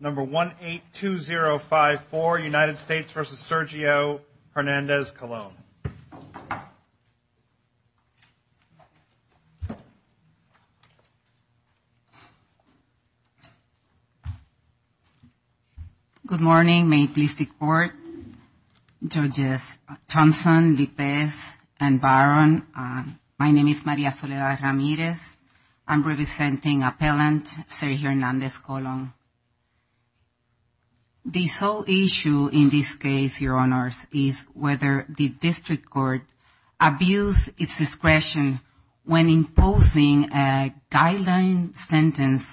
number 1 8 2 0 5 4 United States versus Sergio Hernandez-Colon. Good morning may please the court, judges Thompson, Lippez and Barron. My name is Maria Soledad Ramirez I'm representing appellant Sergio Hernandez-Colon. The sole issue in this case your honors is whether the district court abuse its discretion when imposing a guideline sentence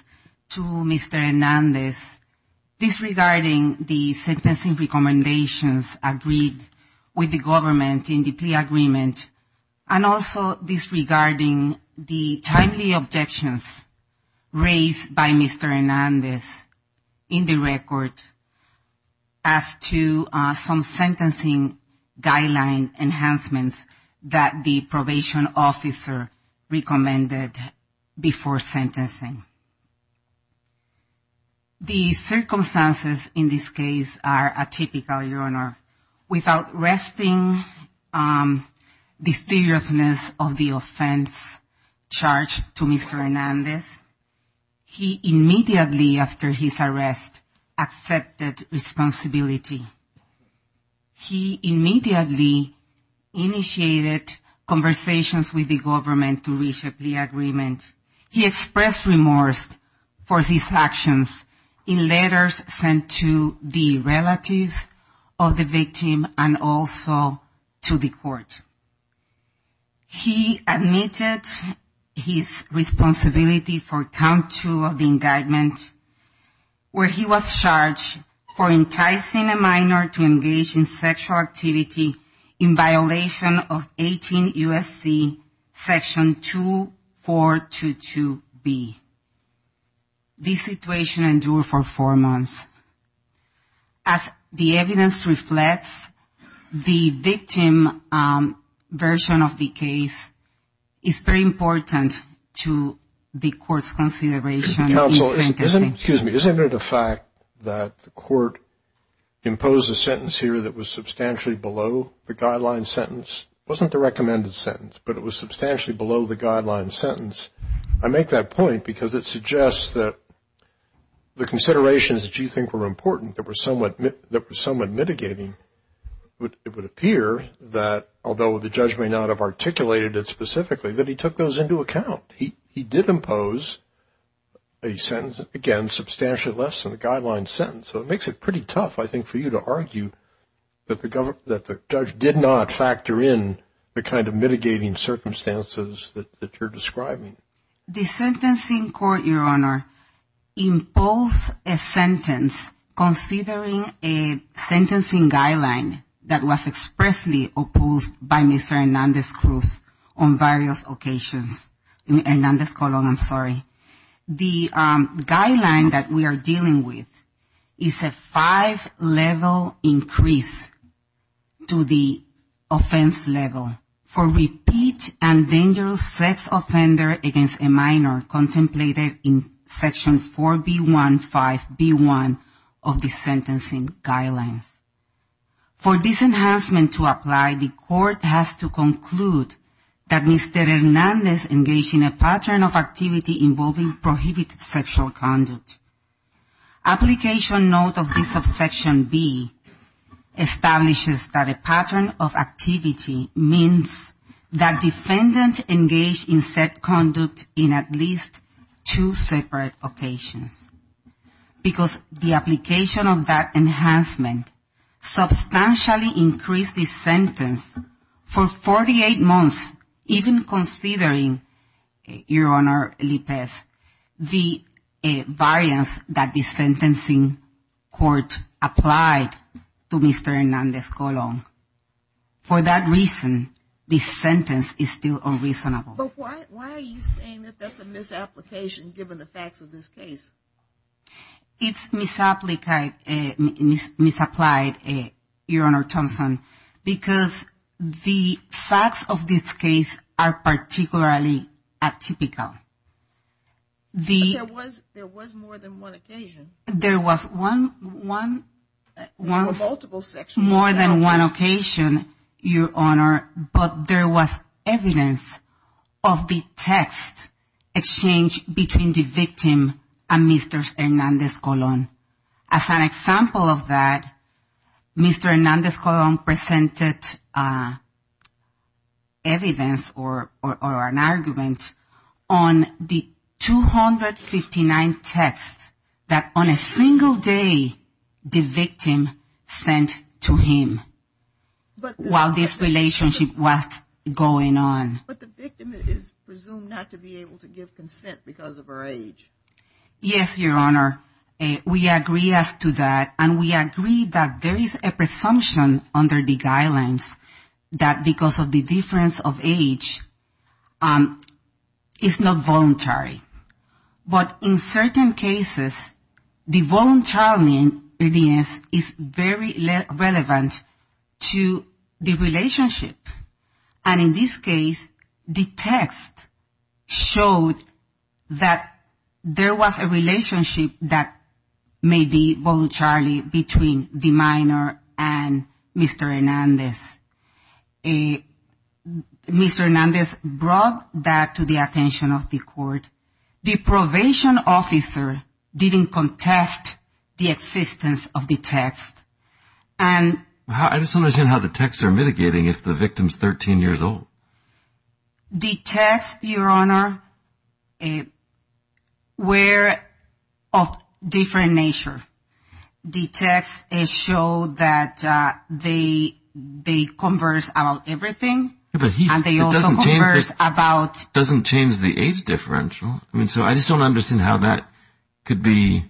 to Mr. Hernandez disregarding the sentencing recommendations agreed with the government in the plea agreement and also disregarding the timely objections raised by Mr. Hernandez in the record as to some sentencing guideline enhancements that the probation officer recommended before sentencing. The circumstances in this case are atypical your honor. Without resting the seriousness of the offense charged to Mr. Hernandez he immediately after his arrest accepted responsibility. He immediately initiated conversations with the government to reach a plea agreement. He expressed remorse for these actions in letters sent to the relatives of the victim and also to the court. He admitted his responsibility for count 2 of the indictment where he was charged for enticing a minor to engage in sexual activity in violation of 18 USC section 2422B. This situation endured for four years. The evidence reflects the victim version of the case is very important to the court's consideration. Counselor, isn't it a fact that the court imposed a sentence here that was substantially below the guideline sentence? It wasn't the recommended sentence but it was substantially below the guideline sentence. I make that point because it suggests that the considerations that you think were important that were somewhat mitigating, it would appear that although the judge may not have articulated it specifically that he took those into account. He did impose a sentence again substantially less than the guideline sentence so it makes it pretty tough I think for you to argue that the judge did not factor in the kind of mitigating circumstances that you're describing. The sentencing court your honor imposed a sentence considering a sentencing guideline that was expressly opposed by Mr. Hernandez-Colón on various occasions. The guideline that we are dealing with is a five level increase to the offense level for repeat and dangerous sex offender against a minor contemplated in section 4B15B1 of the sentencing guidelines. For this enhancement to apply the court has to conclude that Mr. Hernandez engaged in a pattern of activity involving prohibited sexual conduct. Application note of this subsection B establishes that a pattern of activity means that defendant engaged in said conduct in at least two separate occasions because the application of that enhancement substantially increased the sentence for 48 months even considering your honor Lipez the variance that the sentencing court applied to Mr. Hernandez-Colón. For that reason the sentence is still unreasonable. But why are you saying that that's a misapplication given the facts of this case? It's misapplied your honor Thompson because the facts of this case are particularly atypical. There was more than one occasion. There was one, more than one occasion your honor but there was evidence of the text exchanged between the victim and Mr. Hernandez-Colón. As an example of that Mr. Hernandez-Colón presented evidence or an argument on the 259 texts that on a single day the victim sent to him while this relationship was going on. But the victim is presumed not to be able to give consent because of her age. Yes your honor we agree as to that and we agree that there is a presumption under the guidelines that because of the difference of age is not voluntary. But in certain cases the voluntary evidence is very relevant to the relationship. And in this case the text showed that there was a relationship that may be voluntary between the minor and Mr. Hernandez. Mr. Hernandez brought that to the attention of the court. The probation officer didn't contest the existence of the text. I just don't understand how the texts are mitigating if the victim is 13 years old. The text your honor were of different nature. The text showed that they converse about everything and they also converse about... It doesn't change the age differential. I just don't understand how that could be...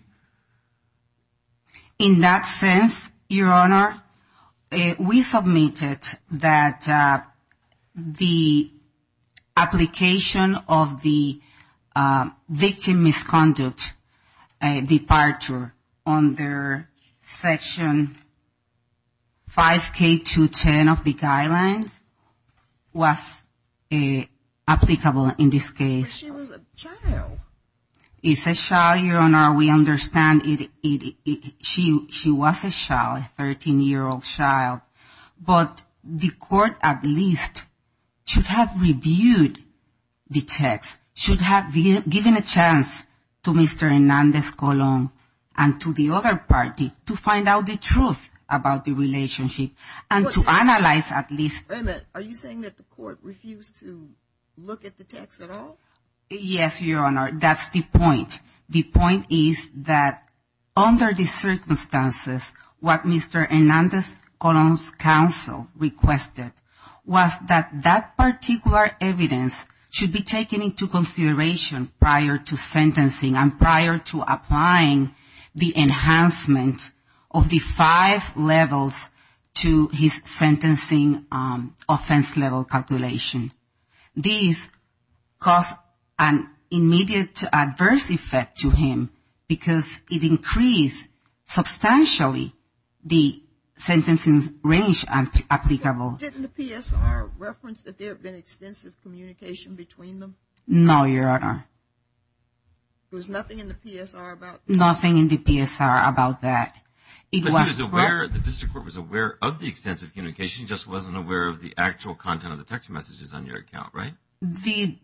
In that sense your honor we submitted that the application of the victim misconduct departure under section 5K210 of the guidelines was applicable in this case. But she was a child. It's a child your honor. We understand she was a child, a 13 year old child. But the court at least should have reviewed the text. Should have given a chance to Mr. Hernandez-Colón and to the other party to find out the truth about the relationship and to analyze at least... Wait a minute. Are you saying that the court refused to look at the text at all? Yes your honor. That's the point. The point is that under the circumstances, what Mr. Hernandez-Colón's counsel requested was that that particular evidence should be taken into consideration prior to sentencing and prior to applying the enhancement of the five levels to his sentencing offense level calculation. This caused an immediate adverse effect to him because it increased substantially the sentencing range applicable. Didn't the PSR reference that there had been extensive communication between them? No your honor. There was nothing in the PSR about that? Nothing in the PSR about that. But he was aware, the district court was aware of the extensive communication he just wasn't aware of the actual content of the text messages on your account, right? The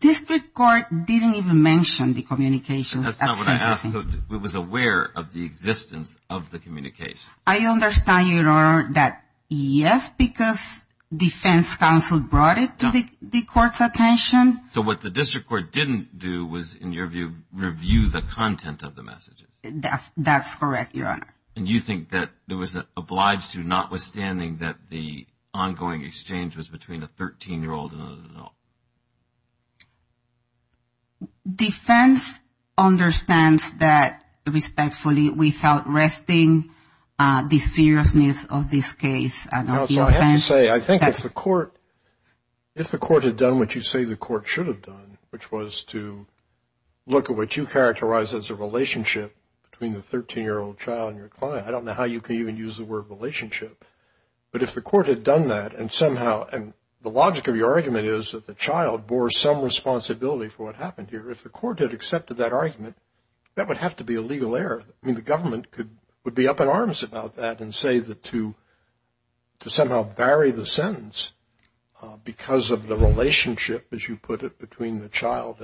district court didn't even mention the communication at sentencing. That's not what I asked. It was aware of the existence of the communication. I understand your honor that yes, because defense counsel brought it to the court's attention. So what the district court didn't do was, in your view, review the content of the messages. That's correct your honor. And you think that it was obliged to notwithstanding that the ongoing exchange was between a 13-year-old and an adult. Defense understands that respectfully we felt resting the seriousness of this case. I have to say, I think if the court had done what you say the court should have done, which was to look at what you characterize as a relationship between the 13-year-old child and your client. I don't know how you can even use the word relationship. But if the court had done that and somehow, and the logic of your argument is that the child bore some responsibility for what happened here. If the court had accepted that argument, that would have to be a legal error. I mean the government would be up in arms about that and say that to somehow bury the sentence because of the relationship, as you put it, between the child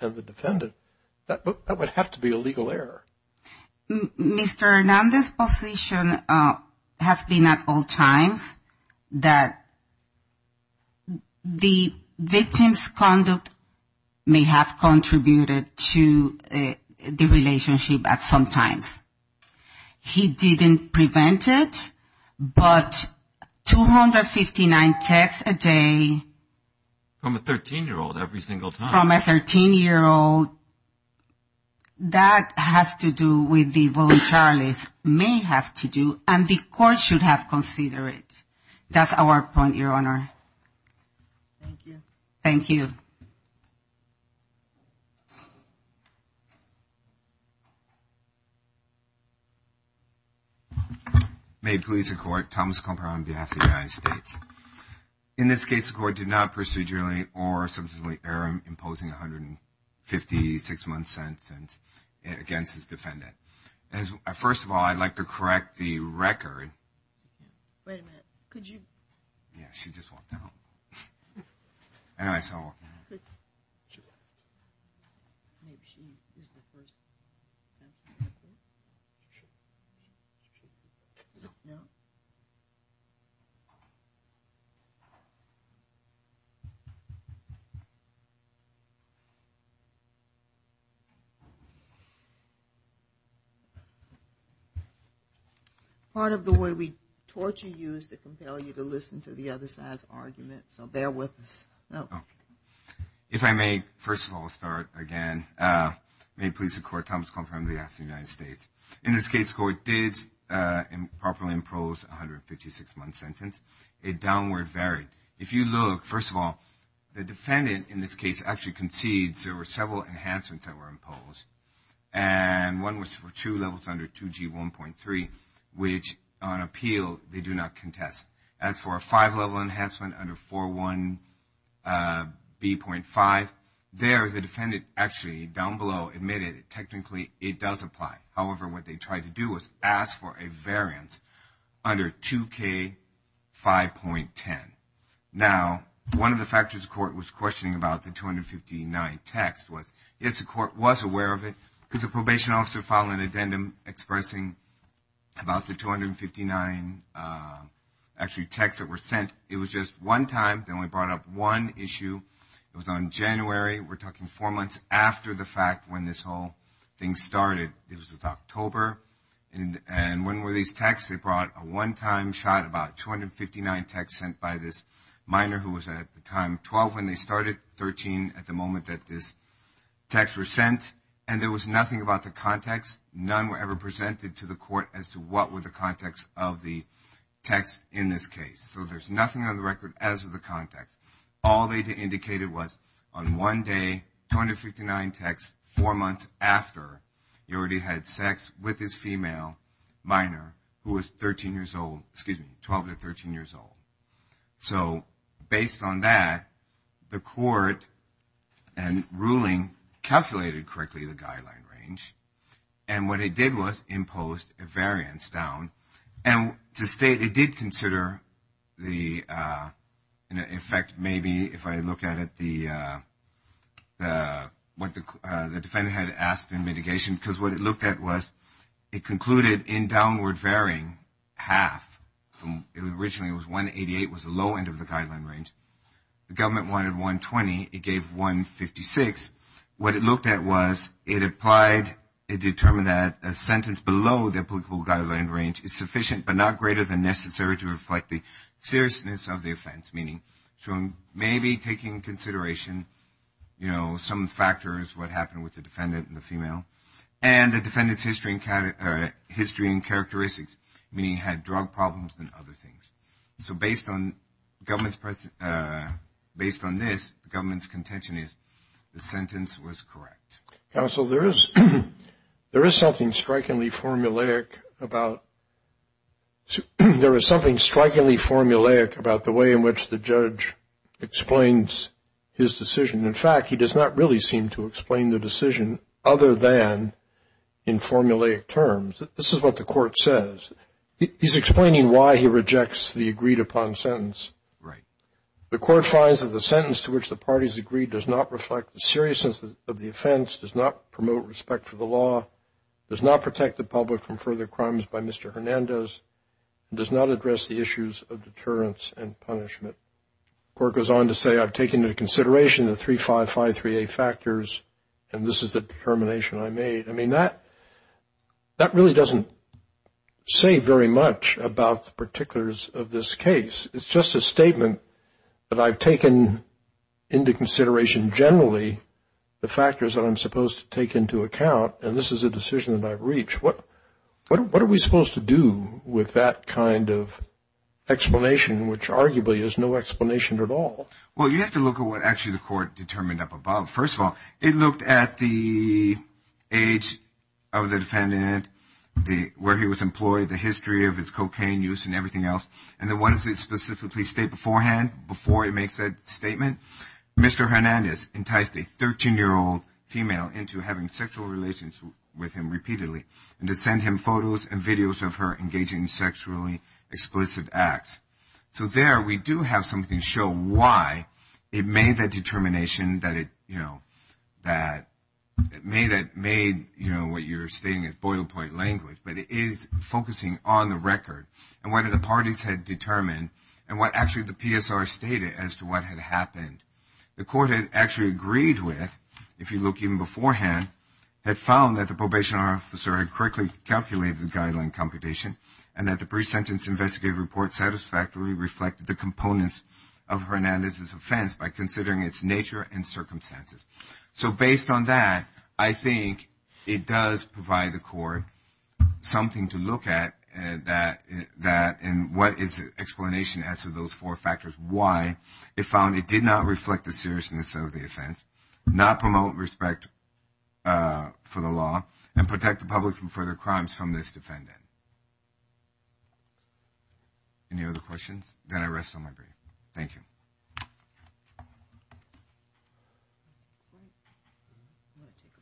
and the defendant, that would have to be a legal error. Mr. Hernandez's position has been at all times that the victim's conduct may have contributed to the relationship at some times. He didn't prevent it, but 259 texts a day. From a 13-year-old every single time. From a 13-year-old, that has to do with the voluntariliness, may have to do, and the court should have considered it. That's our point, Your Honor. Thank you. Thank you. May it please the Court, Thomas Comper on behalf of the United States. In this case, the court did not procedurally or substantially err in imposing a 156-month sentence against this defendant. First of all, I'd like to correct the record. Wait a minute. Could you? Yeah, she just walked out. I know I saw her walking out. Sure. Part of the way we torture you is to compel you to listen to the other side's argument, so bear with us. If I may, first of all, start again. May it please the Court, Thomas Comper on behalf of the United States. In this case, the court did improperly impose a 156-month sentence. It downward varied. If you look, first of all, the defendant in this case actually concedes there were several enhancements that were imposed, and one was for two levels under 2G1.3, which on appeal they do not contest. As for a five-level enhancement under 4.1B.5, there the defendant actually, down below, admitted technically it does apply. However, what they tried to do was ask for a variance under 2K5.10. Now, one of the factors the court was questioning about the 259 text was, yes, the court was aware of it because the probation officer filed an addendum expressing about the 259 actually texts that were sent. It was just one time. They only brought up one issue. It was on January. We're talking four months after the fact when this whole thing started. It was October, and when were these texts? They brought a one-time shot about 259 texts sent by this minor who was at the time 12 when they started, 13 at the moment that these texts were sent, and there was nothing about the context. None were ever presented to the court as to what were the context of the text in this case. So there's nothing on the record as to the context. All they indicated was on one day, 259 texts, four months after, he already had sex with this female minor who was 12 to 13 years old. So based on that, the court and ruling calculated correctly the guideline range, and what it did was imposed a variance down, and to state it did consider the effect maybe, if I look at it, what the defendant had asked in mitigation, because what it looked at was it concluded in downward varying half. Originally it was 188 was the low end of the guideline range. The government wanted 120. It gave 156. What it looked at was it determined that a sentence below the applicable guideline range is sufficient but not greater than necessary to reflect the seriousness of the offense, meaning maybe taking into consideration some factors, what happened with the defendant and the female, and the defendant's history and characteristics, meaning he had drug problems and other things. So based on this, the government's contention is the sentence was correct. Counsel, there is something strikingly formulaic about the way in which the judge explains his decision. In fact, he does not really seem to explain the decision other than in formulaic terms. This is what the court says. He's explaining why he rejects the agreed upon sentence. Right. The court finds that the sentence to which the parties agreed does not reflect the seriousness of the offense, does not promote respect for the law, does not protect the public from further crimes by Mr. Hernandez, and does not address the issues of deterrence and punishment. The court goes on to say, I've taken into consideration the 3553A factors, and this is the determination I made. I mean, that really doesn't say very much about the particulars of this case. It's just a statement that I've taken into consideration generally the factors that I'm supposed to take into account, and this is a decision that I've reached. What are we supposed to do with that kind of explanation, which arguably is no explanation at all? Well, you have to look at what actually the court determined up above. First of all, it looked at the age of the defendant, where he was employed, the history of his cocaine use and everything else, and then what does it specifically state beforehand before it makes that statement? Mr. Hernandez enticed a 13-year-old female into having sexual relations with him repeatedly and to send him photos and videos of her engaging in sexually explicit acts. So there we do have something to show why it made that determination that it, you know, made what you're stating is boil-point language, but it is focusing on the record and what the parties had determined and what actually the PSR stated as to what had happened. The court had actually agreed with, if you look even beforehand, had found that the probation officer had correctly calculated the guideline computation and that the pre-sentence investigative report satisfactorily reflected the components of Hernandez's offense by considering its nature and circumstances. So based on that, I think it does provide the court something to look at that and what its explanation as to those four factors why it found it did not reflect the seriousness of the offense, not promote respect for the law, and protect the public from further crimes from this defendant. Any other questions? Then I rest on my break. Thank you.